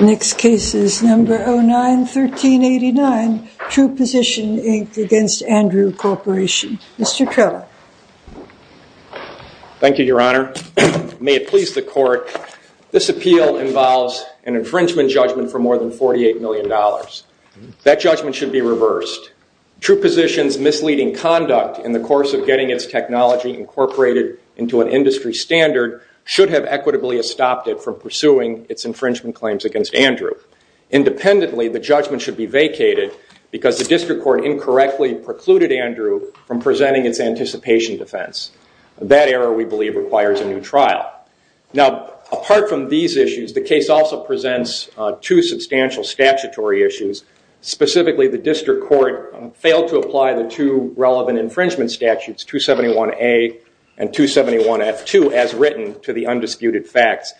Next case is number 09-1389, Treeposition v. Andrew Corporation. Mr. Krell. Thank you, Your Honor. May it please the Court, this appeal involves an infringement judgment for more than $48 million. That judgment should be reversed. Treeposition's misleading conduct in the course of getting its technology incorporated into an industry standard should have equitably stopped it from pursuing its infringement claims against Andrew. Independently, the judgment should be vacated because the District Court incorrectly precluded Andrew from presenting its anticipation defense. That error, we believe, requires a new trial. Now, apart from these issues, the case also presents two substantial statutory issues. Specifically, the District Court failed to apply the two relevant infringement statutes, 271A and 271F2, as written to the undisputed facts.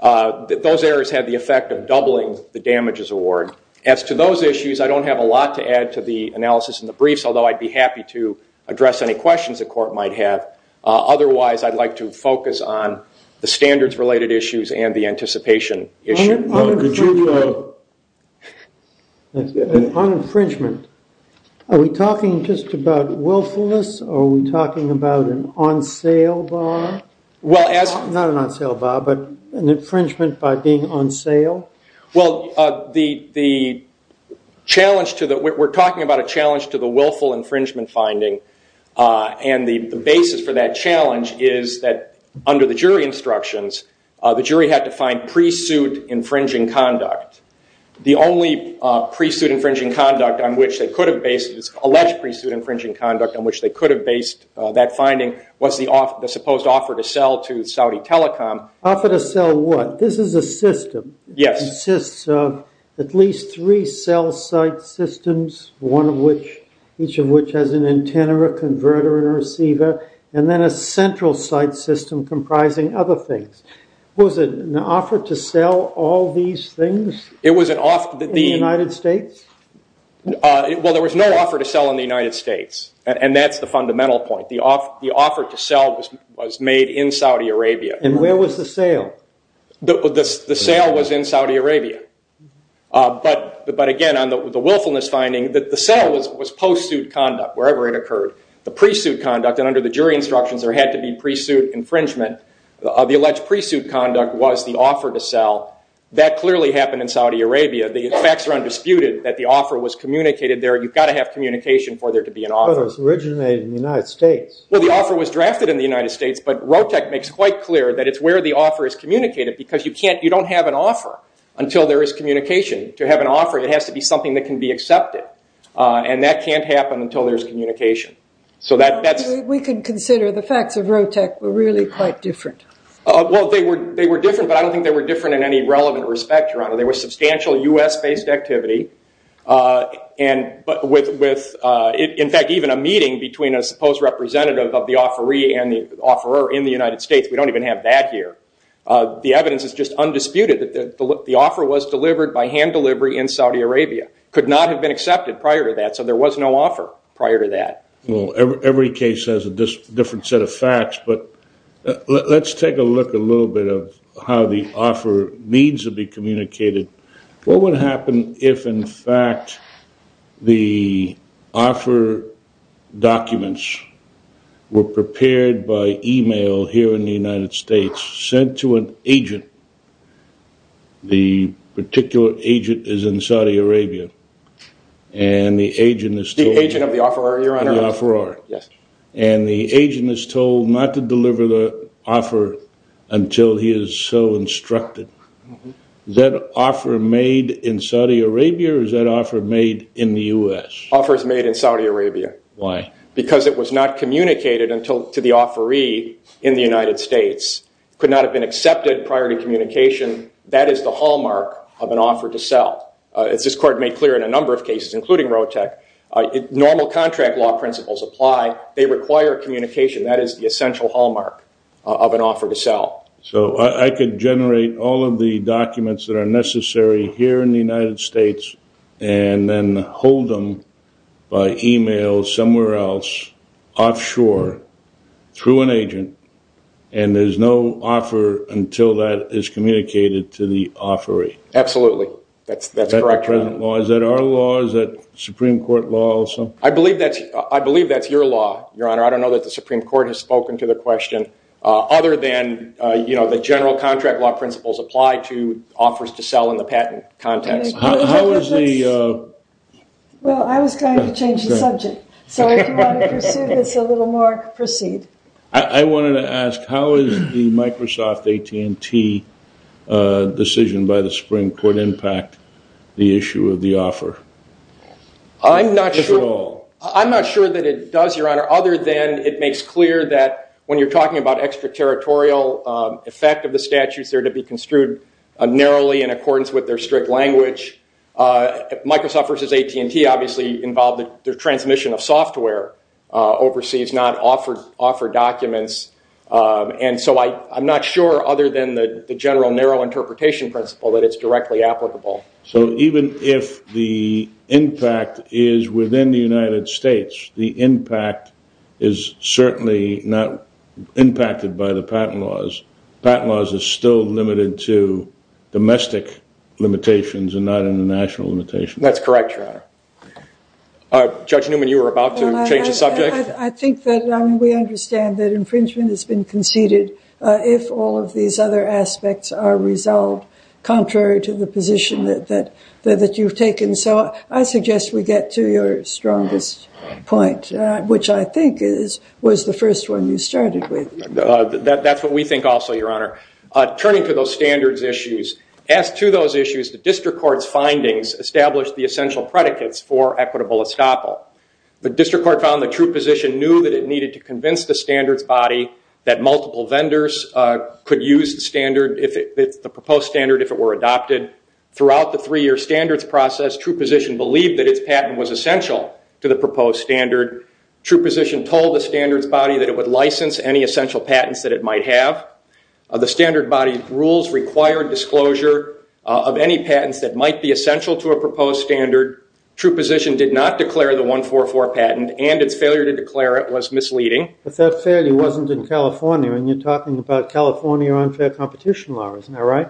Those errors had the effect of doubling the damages award. As to those issues, I don't have a lot to add to the analysis in the briefs, although I'd be happy to address any questions the Court might have. Otherwise, I'd like to focus on the standards-related issues and the anticipation issue. On infringement, are we talking just about willfulness, or are we talking about an on-sale bar? Not an on-sale bar, but an infringement by being on sale? Well, we're talking about a challenge to the willful infringement finding, and the basis for that challenge is that under the jury instructions, the jury had to find pre-suit infringing conduct. The only alleged pre-suit infringing conduct on which they could have based that finding was the supposed offer to sell to Saudi Telecom. Offer to sell what? This is a system that consists of at least three cell-site systems, each of which has an antenna, a converter, and a receiver, and then a central site system comprising other things. Was it an offer to sell all these things in the United States? Well, there was no offer to sell in the United States, and that's the fundamental point. The offer to sell was made in Saudi Arabia. And where was the sale? The sale was in Saudi Arabia, but again, on the willfulness finding, the sale was post-suit conduct, wherever it occurred. The pre-suit conduct, and under the jury instructions, there had to be pre-suit infringement. The alleged pre-suit conduct was the offer to sell. That clearly happened in Saudi Arabia. The facts are undisputed that the offer was communicated there. You've got to have communication for there to be an offer. But it was originated in the United States. Well, the offer was drafted in the United States, but ROTEC makes quite clear that it's where the offer is communicated because you don't have an offer until there is communication. To have an offer, it has to be something that can be accepted, and that can't happen until there's communication. So that's- We can consider the facts of ROTEC were really quite different. Well, they were different, but I don't think they were different in any relevant respect, Your Honor. There was substantial US-based activity. In fact, even a meeting between a supposed representative of the offeree and the offeror in the United States, we don't even have that here. The evidence is just undisputed that the offer was delivered by hand delivery in Saudi Arabia. Could not have been accepted prior to that, so there was no offer prior to that. Well, every case has a different set of facts, but let's take a look a little bit of how the offer needs to be communicated. What would happen if, in fact, the offer documents were prepared by email here in the United States sent to an agent? The particular agent is in Saudi Arabia, the offeror, and the agent is told not to deliver the offer until he is so instructed. Is that offer made in Saudi Arabia, or is that offer made in the US? Offer is made in Saudi Arabia. Why? Because it was not communicated to the offeree in the United States. Could not have been accepted prior to communication. That is the hallmark of an offer to sell. As this court made clear in a contract law principles apply, they require communication. That is the essential hallmark of an offer to sell. I could generate all of the documents that are necessary here in the United States and then hold them by email somewhere else, offshore, through an agent, and there's no offer until that is communicated to the offeree. Absolutely. That's correct. Is that our law? Is that Supreme Court law also? I believe that's your law, Your Honor. I don't know that the Supreme Court has spoken to the question other than the general contract law principles apply to offers to sell in the patent context. Well, I was trying to change the subject, so if you want to pursue this a little more, proceed. I wanted to ask, how is the Microsoft AT&T decision by the Supreme Court impact the issue of the offer? I'm not sure that it does, Your Honor, other than it makes clear that when you're talking about extraterritorial effect of the statutes, they're to be construed narrowly in accordance with their strict language. Microsoft versus AT&T obviously involved the transmission of software overseas, not offer documents, and so I'm not sure other than the general narrow interpretation principle that it's directly applicable. So even if the impact is within the United States, the impact is certainly not impacted by the patent laws. Patent laws are still limited to domestic limitations and not international limitations. That's correct, Your Honor. Judge Newman, you were about to change the subject. I think that we understand that aspects are resolved contrary to the position that you've taken, so I suggest we get to your strongest point, which I think was the first one you started with. That's what we think also, Your Honor. Turning to those standards issues, as to those issues, the district court's findings established the essential predicates for equitable estoppel. The district court found the true position knew that it needed to convince the standards body that multiple vendors could use the proposed standard if it were adopted. Throughout the three-year standards process, true position believed that its patent was essential to the proposed standard. True position told the standards body that it would license any essential patents that it might have. The standard body's rules required disclosure of any patents that might be essential to a proposed standard. True position did not declare the 144 patent, and its failure to declare it was misleading. But that failure wasn't in California, and you're talking about California competition law, isn't that right?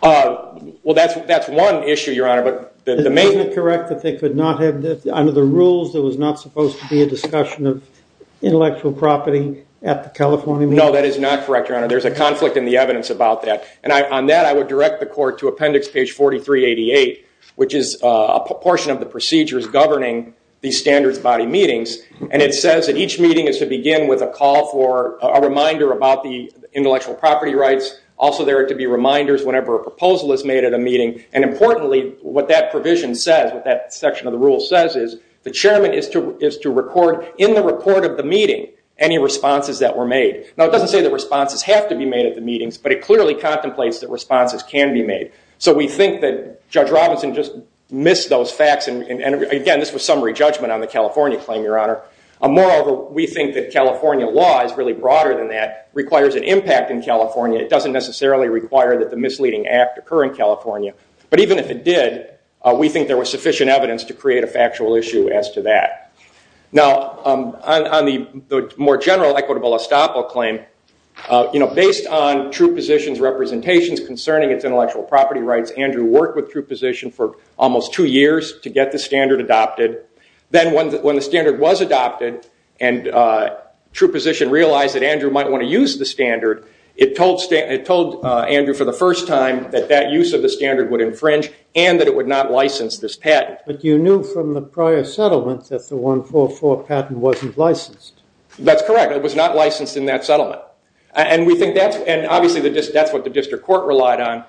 Well, that's one issue, Your Honor. But isn't it correct that they could not have, under the rules, there was not supposed to be a discussion of intellectual property at the California meeting? No, that is not correct, Your Honor. There's a conflict in the evidence about that. And on that, I would direct the court to appendix page 4388, which is a portion of the procedures governing the standards body meetings. And it says that each meeting is to begin with a call for a reminder about the intellectual property rights. Also, there are to be reminders whenever a proposal is made at a meeting. And importantly, what that provision says, what that section of the rule says is, the chairman is to record in the report of the meeting any responses that were made. Now, it doesn't say that responses have to be made at the meetings, but it clearly contemplates that responses can be made. So we think that Judge Robinson just missed those facts. And again, this was summary judgment on the California claim, Your Honor. Moreover, we think that California law is really broader than that, requires an impact in California. It doesn't necessarily require that the misleading act occur in California. But even if it did, we think there was sufficient evidence to create a factual issue as to that. Now, on the more general equitable estoppel claim, based on true positions representations concerning its intellectual property rights, Andrew worked with true position for almost two years to get the standard adopted. Then when the standard was adopted and true position realized that Andrew might want to use the standard, it told Andrew for the first time that that use of the standard would infringe and that it would not license this patent. But you knew from the prior settlements that the 144 patent wasn't licensed. That's correct. It was not licensed in that settlement. And obviously, that's what the district court relied on.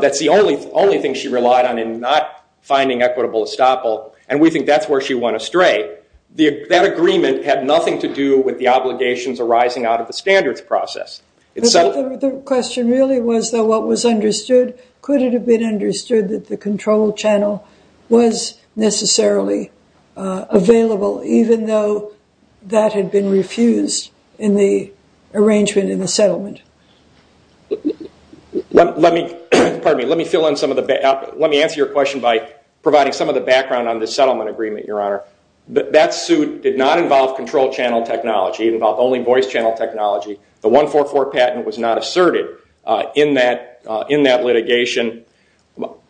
That's the only thing she relied on not finding equitable estoppel. And we think that's where she went astray. That agreement had nothing to do with the obligations arising out of the standards process. The question really was, though, what was understood? Could it have been understood that the control channel was necessarily available, even though that had been refused in the arrangement in the settlement? Let me answer your question by providing some of the background on the settlement agreement, Your Honor. That suit did not involve control channel technology. It involved only voice channel technology. The 144 patent was not asserted in that litigation.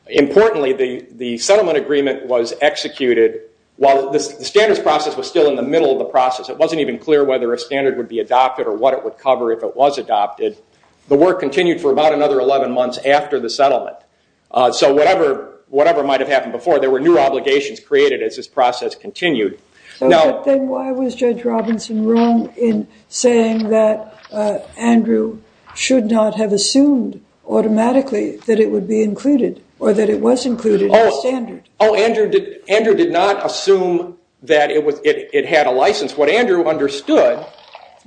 Importantly, the settlement agreement was executed while the standards process was still in the middle of the process. It wasn't even clear whether a standard would be adopted or what it would be adopted. The work continued for about another 11 months after the settlement. So whatever might have happened before, there were new obligations created as this process continued. Then why was Judge Robinson wrong in saying that Andrew should not have assumed automatically that it would be included or that it was included in the standard? Oh, Andrew did not assume that it had a license. What Andrew understood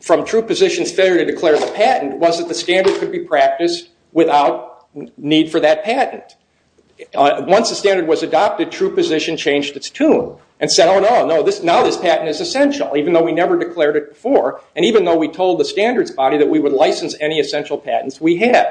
from true position's patent was that the standard could be practiced without need for that patent. Once the standard was adopted, true position changed its tune and said, oh, no, now this patent is essential, even though we never declared it before and even though we told the standards body that we would license any essential patents we had.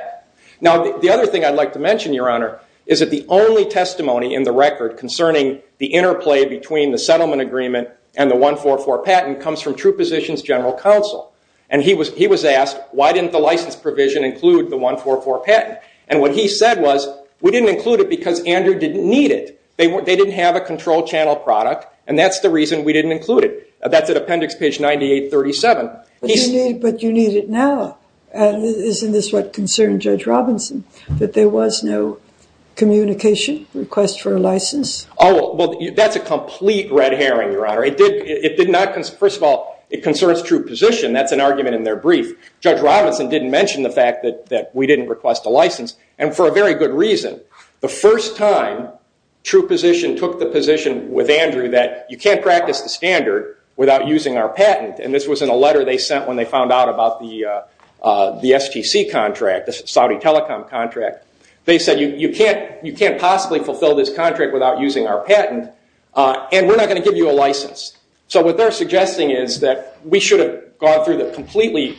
Now, the other thing I'd like to mention, Your Honor, is that the only testimony in the record concerning the interplay between the settlement agreement and the 144 patent comes from true position's general counsel. And he was asked, why didn't the license provision include the 144 patent? And what he said was, we didn't include it because Andrew didn't need it. They didn't have a control channel product, and that's the reason we didn't include it. That's at appendix page 9837. But you need it now. And isn't this what concerned Judge Robinson, that there was no communication request for a license? Oh, well, that's a complete red herring, Your Honor. First of all, it concerns true position. That's an argument in their brief. Judge Robinson didn't mention the fact that we didn't request a license, and for a very good reason. The first time true position took the position with Andrew that you can't practice the standard without using our patent. And this was in a letter they sent when they found out about the STC contract, the Saudi telecom contract. They said, you can't possibly fulfill this So what they're suggesting is that we should have gone through the completely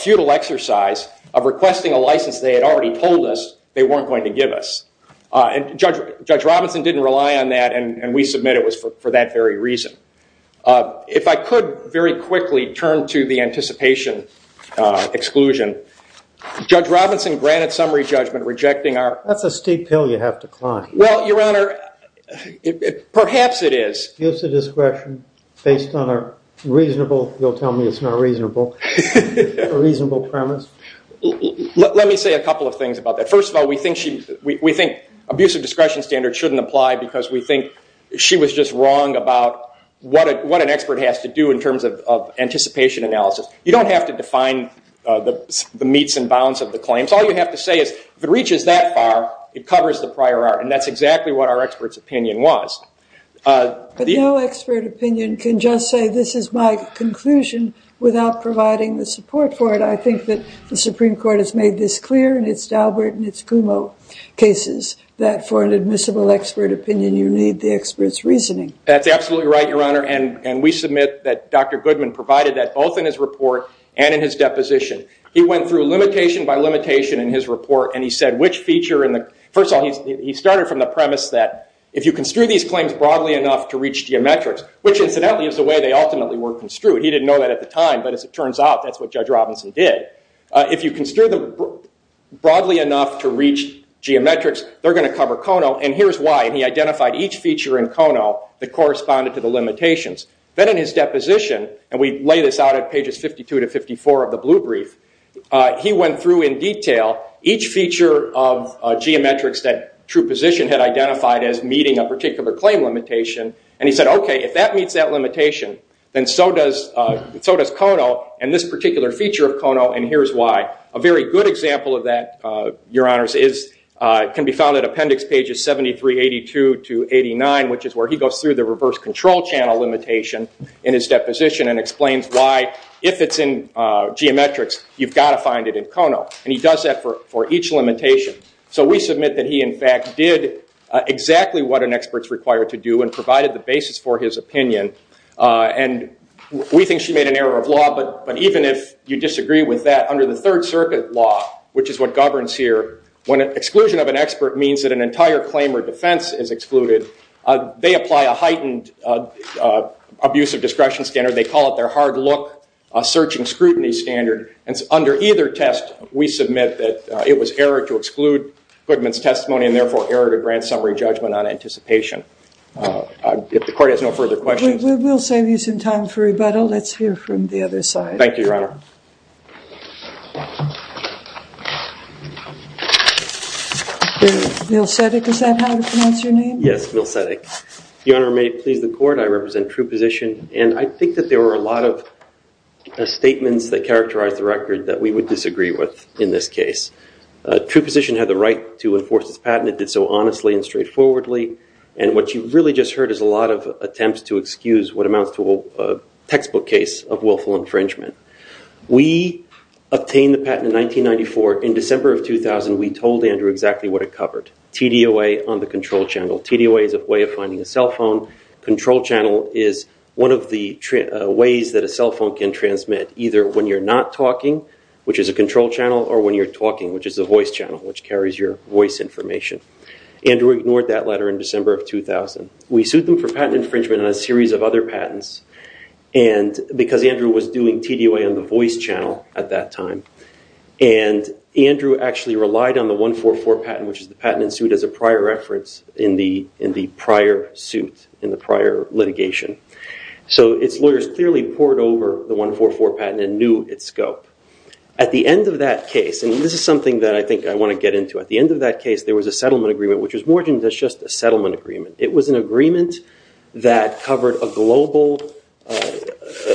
futile exercise of requesting a license they had already told us they weren't going to give us. And Judge Robinson didn't rely on that, and we submit it was for that very reason. If I could very quickly turn to the anticipation exclusion. Judge Robinson granted summary judgment rejecting our- That's a steep hill you have to climb. Well, Your Honor, perhaps it is. Use of discretion based on a reasonable, you'll tell me it's not reasonable, a reasonable premise. Let me say a couple of things about that. First of all, we think abusive discretion standards shouldn't apply because we think she was just wrong about what an expert has to do in terms of anticipation analysis. You don't have to define the meets and bounds of the claims. All you have to say is if it reaches that far, it covers the prior art, that's exactly what our expert's opinion was. But no expert opinion can just say this is my conclusion without providing the support for it. I think that the Supreme Court has made this clear in its Daubert and its Kumo cases, that for an admissible expert opinion, you need the expert's reasoning. That's absolutely right, Your Honor, and we submit that Dr. Goodman provided that both in his report and in his deposition. He went through limitation by limitation in his report, and he said which feature, first of all, he started from the premise that if you construe these claims broadly enough to reach geometrics, which incidentally is the way they ultimately were construed. He didn't know that at the time, but as it turns out, that's what Judge Robinson did. If you construe them broadly enough to reach geometrics, they're going to cover Kono, and here's why. He identified each feature in Kono that corresponded to the limitations. Then in his deposition, and we lay this out at pages 52 to 54 of the blue brief, he went through in detail each feature of geometrics that true position had identified as meeting a particular claim limitation, and he said, okay, if that meets that limitation, then so does Kono, and this particular feature of Kono, and here's why. A very good example of that, Your Honors, can be found at appendix pages 7382 to 89, which is where he goes through the reverse control channel limitation in his deposition and explains why, if it's in geometrics, you've got to find it in Kono, and he does that for each limitation. So we submit that he, in fact, did exactly what an expert's required to do and provided the basis for his opinion, and we think she made an error of law, but even if you disagree with that, under the Third Circuit law, which is what governs here, when exclusion of an expert means that an entire claim or defense is excluded, they apply a heightened abuse of discretion standard. They call it their hard look, a search and scrutiny standard, and under either test, we submit that it was error to exclude Goodman's testimony and, therefore, error to grant summary judgment on anticipation. If the Court has no further questions. We will save you some time for rebuttal. Let's hear from the other side. Thank you, Your Honor. Bill Seddick, is that how to pronounce your name? Yes, Bill Seddick. Your Honor, may it please the there were a lot of statements that characterized the record that we would disagree with in this case. True Position had the right to enforce this patent. It did so honestly and straightforwardly, and what you really just heard is a lot of attempts to excuse what amounts to a textbook case of willful infringement. We obtained the patent in 1994. In December of 2000, we told Andrew exactly what it covered, TDOA on the control channel. TDOA is a way of finding a cell phone. Control channel is one of the ways that a cell phone can transmit either when you're not talking, which is a control channel, or when you're talking, which is a voice channel, which carries your voice information. Andrew ignored that letter in December of 2000. We sued them for patent infringement on a series of other patents because Andrew was doing TDOA on the voice channel at that time, and Andrew actually relied on the 144 patent, which is the patent in suit, as a prior reference in the prior suit, in the prior litigation. So its lawyers clearly poured over the 144 patent and knew its scope. At the end of that case, and this is something that I think I want to get into, at the end of that case, there was a settlement agreement, which was more than just a settlement agreement. It was an agreement that covered a global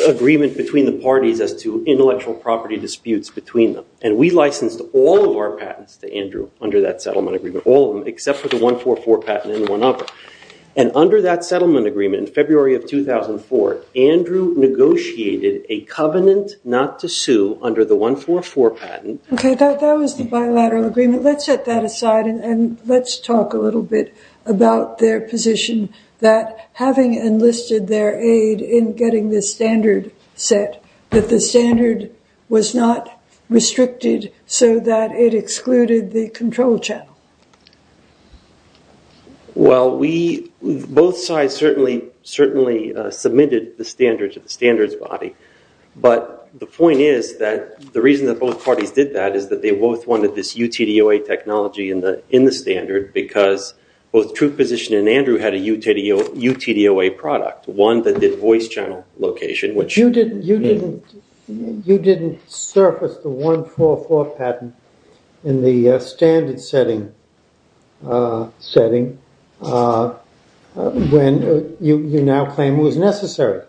agreement between the parties as to intellectual property disputes between them, and we licensed all of our patents to Andrew under that settlement agreement, all of them, except for the 144 patent and one other. And under that settlement agreement in February of 2004, Andrew negotiated a covenant not to sue under the 144 patent. Okay, that was the bilateral agreement. Let's set that aside and let's talk a little bit about their position that having enlisted their aid in getting this standard set, that the standard was not restricted so that it excluded the control channel. Well, both sides certainly submitted the standard to the standards body, but the point is that the reason that both parties did that is that they both wanted this UTDOA technology in the standard because both Truth Position and Andrew had a UTDOA product, one that did voice channel location, You didn't surface the 144 patent in the standard setting when you now claim it was necessary.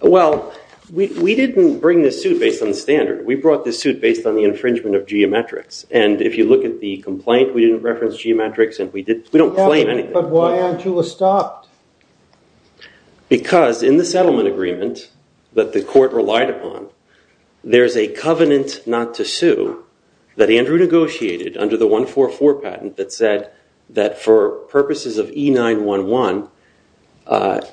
Well, we didn't bring this suit based on the standard. We brought this suit based on the infringement of geometrics, and if you look at the complaint, we didn't reference geometrics, and we don't claim anything. But why aren't you stopped? Because in the settlement agreement that the court relied upon, there's a covenant not to sue that Andrew negotiated under the 144 patent that said that for purposes of E911,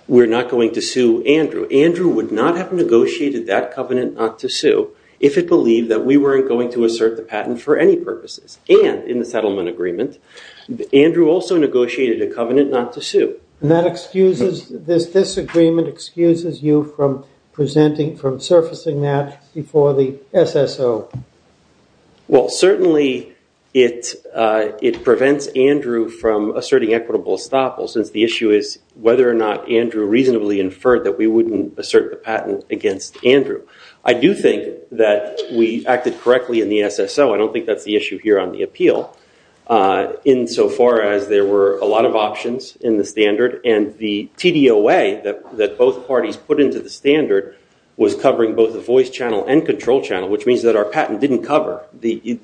we're not going to sue Andrew. Andrew would not have negotiated that covenant not to sue if it believed that we weren't going to assert the patent for any purposes. And in the settlement agreement, Andrew also negotiated a covenant not to sue. And this disagreement excuses you from surfacing that before the SSO? Well, certainly it prevents Andrew from asserting equitable estoppel since the issue is whether or not Andrew reasonably inferred that we wouldn't assert the patent against Andrew. I do think that we acted correctly in the SSO. I don't think that's the issue here on the appeal insofar as there were a lot of options in the standard. And the TDOA that both parties put into the standard was covering both the voice channel and control channel, which means that our patent didn't cover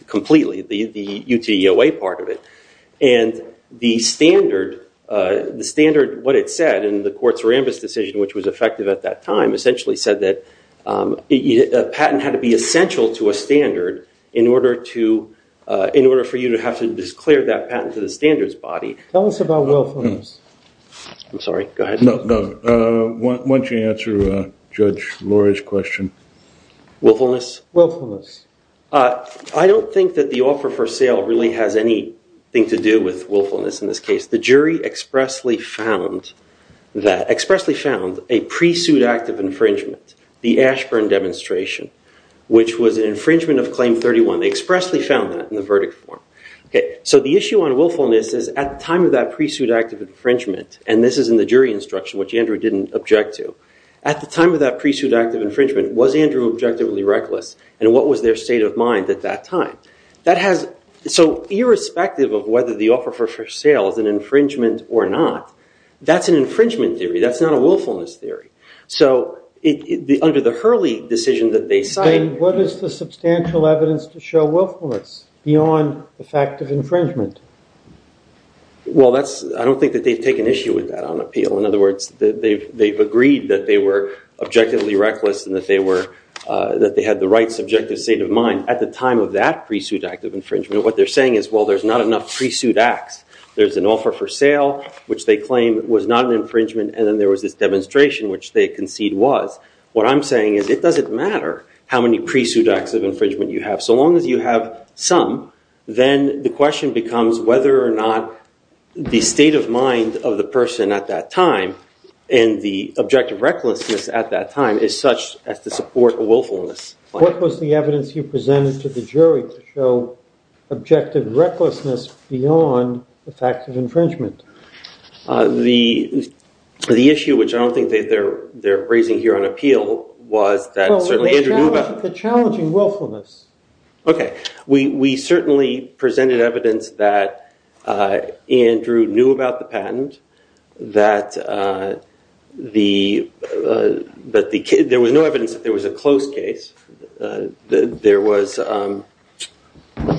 completely the UTOA part of it. And the standard, what it said in the court's Rambis decision, which was effective at that time, essentially said that a patent had to be essential to a standard in order for you to have to declare that patent to the standards body. Tell us about willfulness. I'm sorry, go ahead. No, no. Why don't you answer Judge Lori's question? Willfulness? Willfulness. I don't think that the offer for sale really has anything to do with willfulness in this case. The jury expressly found that, expressly found a pre-suit act of infringement, the Ashburn demonstration, which was an infringement of Claim 31. They expressly found that in the verdict form. So the issue on willfulness is at the time of that pre-suit act of infringement, and this is in the jury instruction, which Andrew didn't object to, at the time of that pre-suit act of infringement, was Andrew objectively reckless? And what was their state of mind at that time? So irrespective of whether the offer for sale is an infringement or not, that's an infringement theory. That's not a willfulness theory. So under the Hurley decision that they cited- What is the substantial evidence to show willfulness beyond the fact of infringement? Well, I don't think that they've taken issue with that on appeal. In other words, they've agreed that they were objectively reckless and that they had the right subjective state of mind at the time of that pre-suit act of infringement. What they're saying is, there's not enough pre-suit acts. There's an offer for sale, which they claim was not an infringement, and then there was this demonstration, which they concede was. What I'm saying is it doesn't matter how many pre-suit acts of infringement you have. So long as you have some, then the question becomes whether or not the state of mind of the person at that time and the objective recklessness at that time is such as to support a willfulness. What was the evidence you presented to the jury to show objective recklessness beyond the fact of infringement? The issue, which I don't think they're raising here on appeal, was that- Well, the challenging willfulness. Okay. We certainly presented evidence that Andrew knew about the patent, that there was no evidence that there was a close case. There was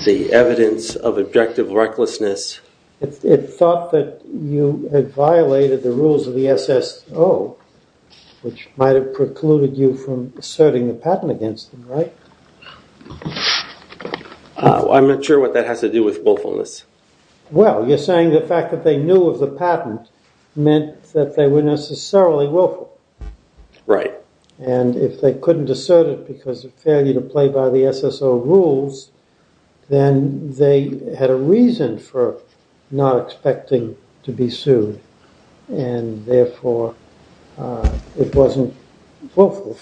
the evidence of objective recklessness. It thought that you had violated the rules of the SSO, which might have precluded you from asserting a patent against them, right? I'm not sure what that has to do with willfulness. Well, you're saying the fact that they knew of the patent meant that they were necessarily willful. Right. And if they couldn't assert it because of failure to play by the SSO rules, then they had a reason for not expecting to be sued. And therefore, it wasn't willful.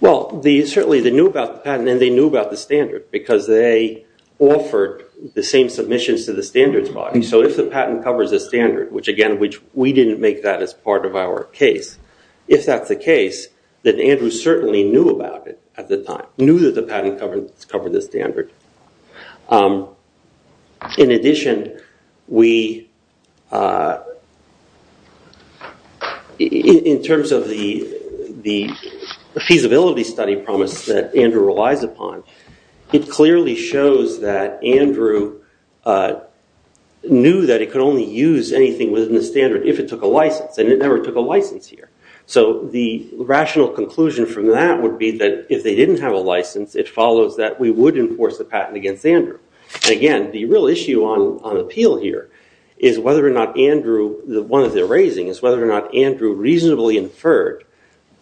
Well, certainly they knew about the patent and they knew about the standard, because they offered the same submissions to the standards body. So if the patent covers a standard, which again, we didn't make that as part of our case, if that's the case, then Andrew certainly knew about it at the time, knew that the patent covered the standard. In addition, in terms of the feasibility study promise that Andrew relies upon, it clearly shows that Andrew knew that it could only use anything within the standard if it took a license, and it never took a license here. So the rational conclusion from that would be that if they didn't have a license, it follows that we would enforce the patent against Andrew. And again, the real issue on appeal here is whether or not Andrew, the one that they're raising is whether or not Andrew reasonably inferred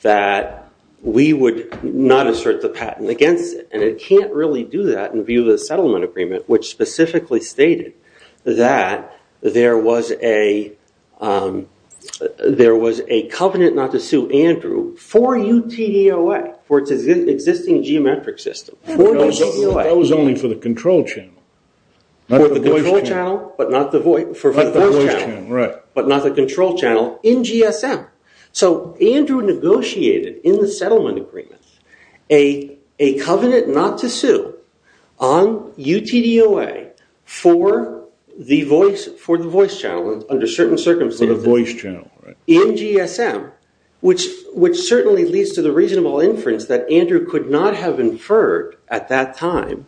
that we would not assert the patent against it. And it can't really do that in view of the settlement agreement, which specifically stated that there was a covenant not to sue Andrew for UTDOA, for its existing geometric system, for UTDOA. That was only for the control channel, not the voice channel, right. But not the control channel in GSM. So Andrew negotiated in the settlement agreement a covenant not to sue on UTDOA for the voice channel under certain circumstances. The voice channel, right. In GSM, which certainly leads to the reasonable inference that Andrew could not have inferred at that time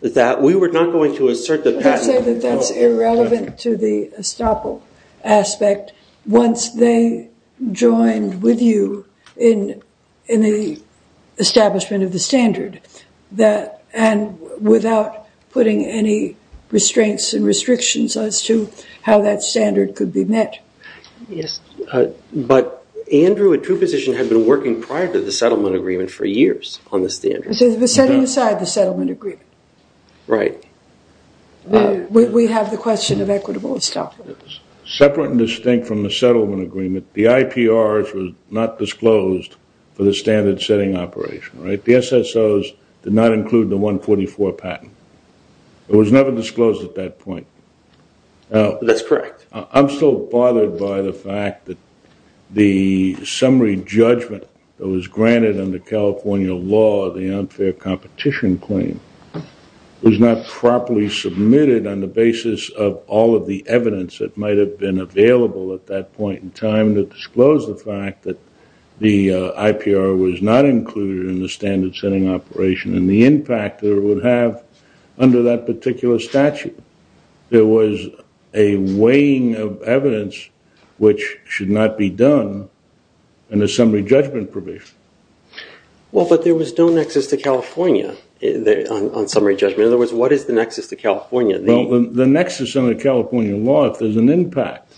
that we were not going to assert the patent. That's irrelevant to the estoppel aspect. Once they joined with you in the establishment of the standard, and without putting any restraints and restrictions as to how that standard could be met. Yes, but Andrew, a true position, had been working prior to the settlement agreement for years on the standard. Setting aside the settlement agreement. Right. We have the question of equitable estoppel. Separate and distinct from the settlement agreement, the IPRs was not disclosed for the standard setting operation, right. The SSOs did not include the 144 patent. It was never disclosed at that point. That's correct. I'm still bothered by the fact that the summary judgment that was granted under California law, the unfair competition claim, was not properly submitted on the basis of all of the evidence that might have been available at that point in time to disclose the fact that the IPR was not included in the standard setting operation and the impact that it would have under that particular statute. There was a weighing of evidence which should not be done in the summary judgment provision. Well, but there was no nexus to California on summary judgment. In other words, what is the nexus to California? Well, the nexus under California law, if there's an impact,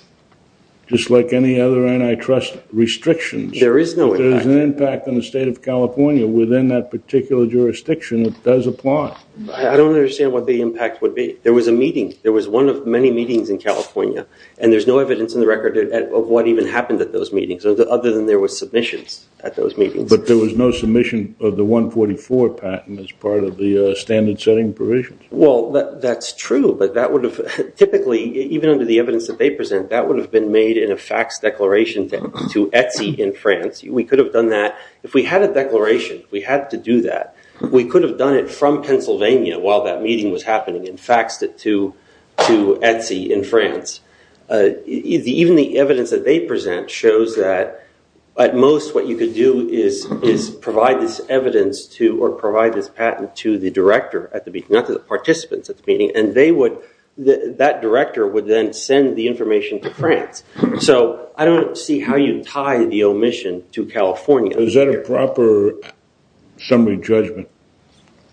just like any other antitrust restrictions. There is no impact. There's an impact on the state of California within that particular jurisdiction. It does apply. I don't understand what the impact would be. There was a meeting. There was one of many meetings in California. And there's no evidence in the record of what even happened at those meetings, other than there were submissions at those meetings. But there was no submission of the 144 patent as part of the standard setting provisions. Well, that's true. But that would have typically, even under the evidence that they present, that would have been made in a fax declaration to ETSI in France. We could have done that. If we had a declaration, we had to do that. We could have done it from Pennsylvania while that meeting was happening and faxed it to ETSI in France. Even the evidence that they present shows that, at most, what you could do is provide this evidence to or provide this patent to the director at the meeting, not to the participants at the meeting. And that director would then send the information to France. So I don't see how you tie the omission to California. Is that a proper summary judgment?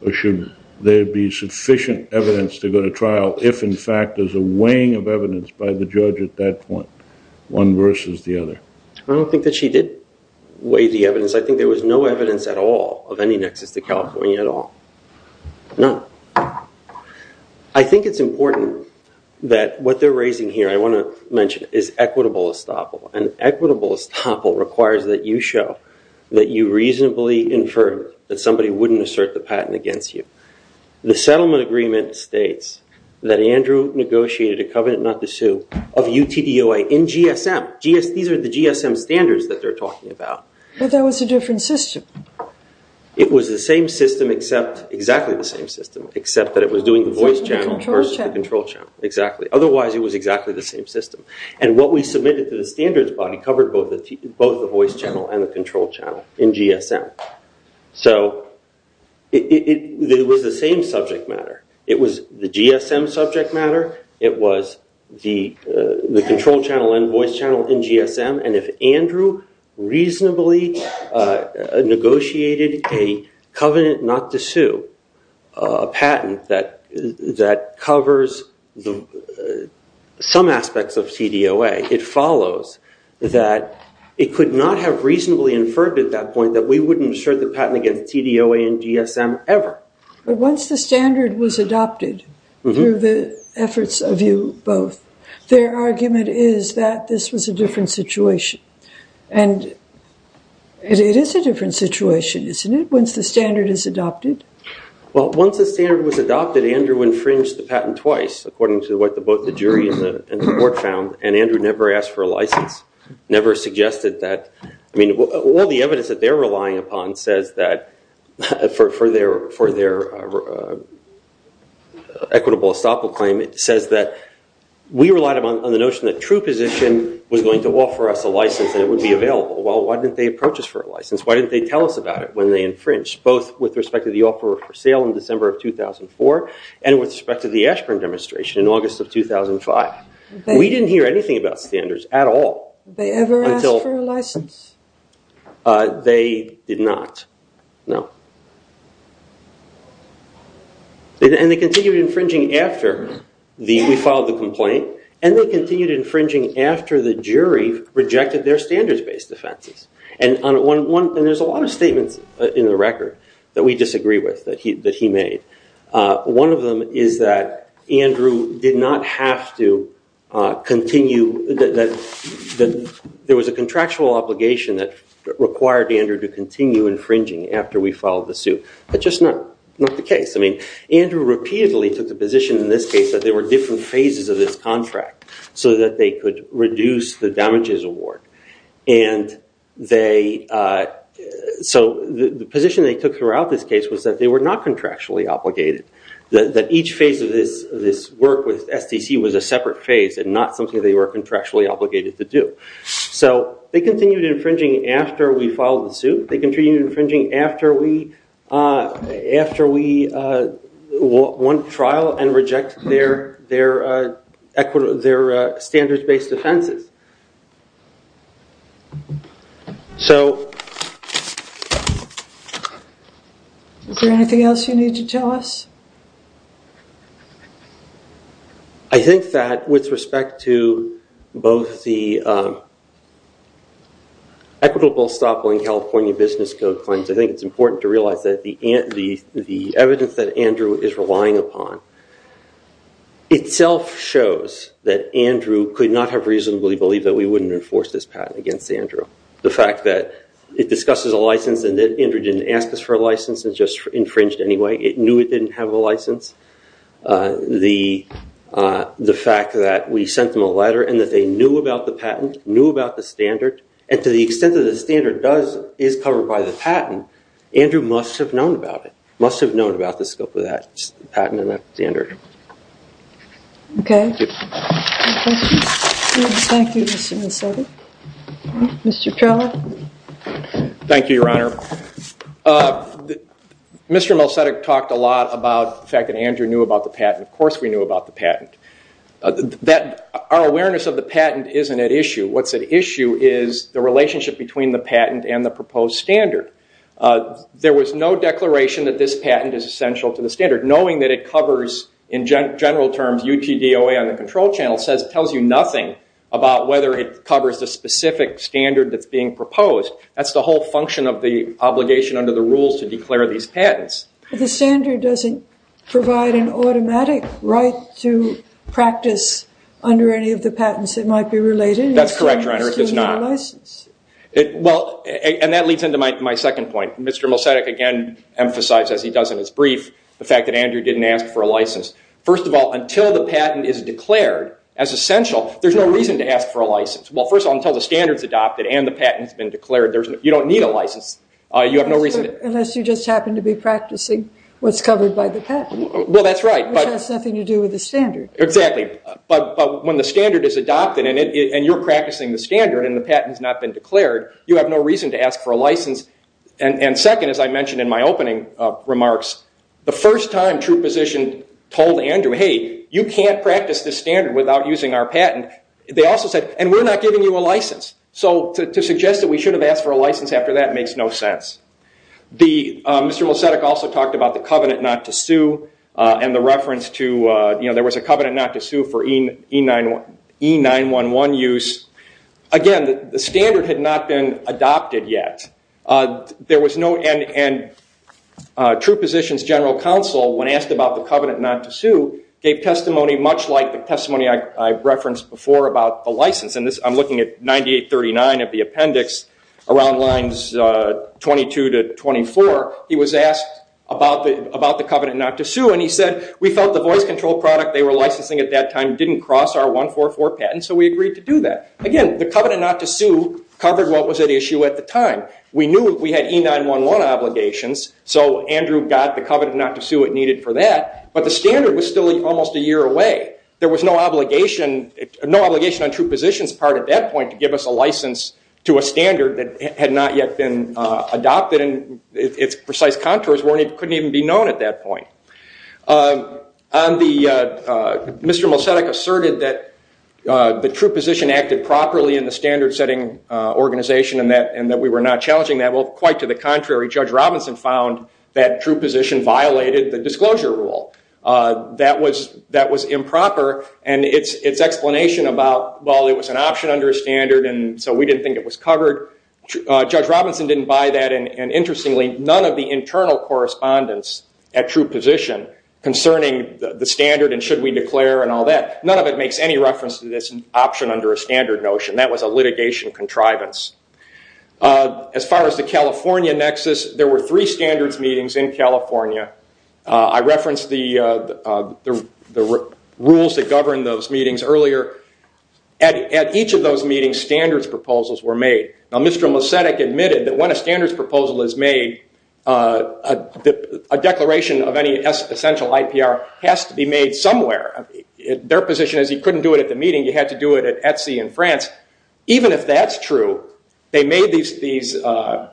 Or should there be sufficient evidence to go to trial if, in fact, there's a weighing of evidence by the judge at that point, one versus the other? I don't think that she did weigh the evidence. I think there was no evidence at all of any nexus to California at all, none. I think it's important that what they're raising here, I want to mention, is equitable estoppel. And equitable estoppel requires that you show that you reasonably inferred that somebody wouldn't assert the patent against you. The settlement agreement states that Andrew negotiated a covenant not to sue of UTDOA in GSM. These are the GSM standards that they're talking about. But that was a different system. It was the same system except, exactly the same system, except that it was doing the voice channel versus the control channel. Exactly. Otherwise, it was exactly the same system. And what we submitted to the standards body covered both the voice channel and the control channel in GSM. So it was the same subject matter. It was the GSM subject matter. It was the control channel and voice channel in GSM. And if Andrew reasonably negotiated a covenant not to sue patent that covers some aspects of CDOA, it follows that it could not have reasonably inferred at that point that we wouldn't assert the patent against TDOA and GSM ever. But once the standard was adopted through the efforts of you both, their argument is that this was a different situation. And it is a different situation, isn't it, once the standard is adopted? Well, once the standard was adopted, Andrew infringed the patent twice, according to what both the jury and the court found. And Andrew never asked for a license, never suggested that. I mean, all the evidence that they're relying upon says that for their equitable estoppel claim, it says that we relied on the notion that true position was going to offer us a license and it would be available. Well, why didn't they approach us for a license? Why didn't they tell us about it when they infringed, both with respect to the offer for sale in December of 2004 and with respect to the Ashburn demonstration in August of 2005? We didn't hear anything about standards at all. They ever asked for a license? They did not, no. And they continued infringing after we filed the complaint. And they continued infringing after the jury rejected their standards-based offenses. And there's a lot of statements in the record that we disagree with that he made. One of them is that there was a contractual obligation that required Andrew to continue infringing after we filed the suit. That's just not the case. I mean, Andrew repeatedly took the position in this case that there were different phases of this contract so that they could reduce the damages award. So the position they took throughout this case was that they were not contractually obligated, that each phase of this work with STC was a separate phase and not something they were contractually obligated to do. So they continued infringing after we filed the suit. They continued infringing after we won trial and rejected their standards-based offenses. Is there anything else you need to tell us? I think that with respect to both the equitable stop-buying California business code claims, I think it's important to realize that the evidence that Andrew is relying upon itself shows that Andrew could not have reasonably believed that we wouldn't enforce this patent against Andrew. The fact that it discusses a license and that Andrew didn't ask us for a license and just infringed anyway. It knew it didn't have a license. The fact that we sent them a letter and that they knew about the patent, knew about the standard, and to the extent that the standard is covered by the patent, Andrew must have Mr. Melsedek talked a lot about the fact that Andrew knew about the patent. Of course we knew about the patent. Our awareness of the patent isn't at issue. What's at issue is the relationship between the patent and the proposed standard. There was no declaration that this patent is essential to the standard, knowing that in general terms, UTDOA on the control channel tells you nothing about whether it covers the specific standard that's being proposed. That's the whole function of the obligation under the rules to declare these patents. The standard doesn't provide an automatic right to practice under any of the patents that might be related. That's correct, Your Honor. It does not. And that leads into my second point. Mr. Melsedek again emphasized, as he does in his brief, the fact that Andrew didn't ask for a license. First of all, until the patent is declared as essential, there's no reason to ask for a license. First of all, until the standard is adopted and the patent has been declared, you don't need a license. Unless you just happen to be practicing what's covered by the patent, which has nothing to do with the standard. Exactly. But when the standard is adopted and you're practicing the standard and the patent has not been declared, you have no reason to ask for a license. And second, as I mentioned in my opening remarks, the first time true position told Andrew, hey, you can't practice this standard without using our patent, they also said, and we're not giving you a license. So to suggest that we should have asked for a license after that makes no sense. Mr. Melsedek also talked about the covenant not to sue and the reference to there was a covenant not to sue for E911 use. Again, the standard had not been adopted yet. There was no, and true position's general counsel, when asked about the covenant not to sue, gave testimony much like the testimony I referenced before about the license. And I'm looking at 9839 of the appendix around lines 22 to 24. He was asked about the covenant not to sue and he said, we felt the voice control product they were licensing at that time didn't cross our 144 patent, so we agreed to do that. Again, the covenant not to sue covered what was at issue at the time. We knew we had E911 obligations, so Andrew got the covenant not to sue needed for that, but the standard was still almost a year away. There was no obligation on true position's part at that point to give us a license to a standard that had not yet been adopted and its precise contours couldn't even be known at that point. On the, Mr. Melsedek asserted that the true position acted properly in the standard setting organization and that we were not challenging that. Well, quite to the contrary, Judge Robinson found that true position violated the disclosure rule. That was improper and its explanation about, well, it was an option under a standard and so we didn't think it was covered. Judge Robinson didn't buy that and interestingly, none of the internal correspondence at true position concerning the standard and should we declare and all that, none of it makes any reference to this option under a standard notion. That was a litigation contrivance. As far as the California nexus, there were three standards meetings in California. I referenced the rules that govern those meetings earlier. At each of those meetings, standards proposals were made. Now, Mr. Melsedek admitted that when a standards proposal is made, a declaration of any essential IPR has to be made somewhere. Their position is you couldn't do it at the meeting. You had to do it at Etsy in France. Even if that's true, they made these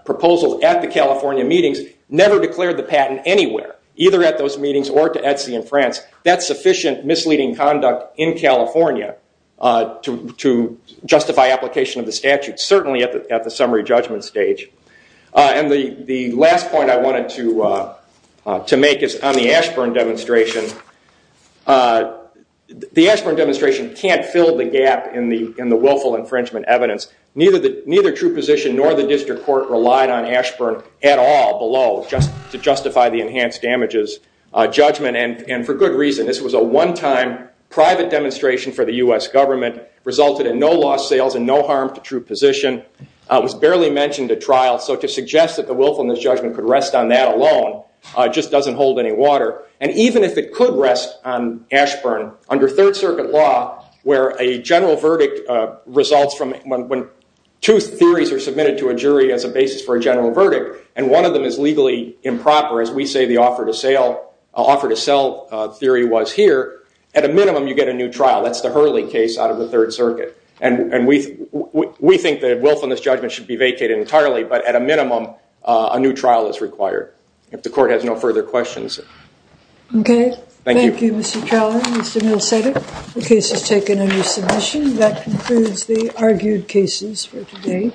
proposals at the California meetings, never declared the patent anywhere, either at those meetings or to Etsy in France. That's sufficient misleading conduct in California to justify application of the statute, certainly at the summary judgment stage. And the last point I wanted to make is on the Ashburn demonstration. The Ashburn demonstration can't fill the gap in the willful infringement evidence. Neither true position nor the district court relied on Ashburn at all below to justify the enhanced damages judgment. And for good reason. This was a one-time private demonstration for the US government, resulted in no lost sales and no harm to true position, was barely mentioned at trial. So to suggest that the willfulness judgment could rest on that alone just doesn't hold any water. And even if it could rest on Ashburn under Third Circuit law, where a general verdict results from when two theories are submitted to a jury as a basis for a general verdict, and one of them is legally improper, as we say the offer to sell theory was here, at a minimum, you get a new trial. That's the Hurley case out of the Third Circuit. And we think that willfulness judgment should be vacated entirely. But at a minimum, a new trial is required, if the court has no further questions. Okay. Thank you, Mr. Trelawney. Mr. Mills said it. The case is taken under submission. That concludes the argued cases for today.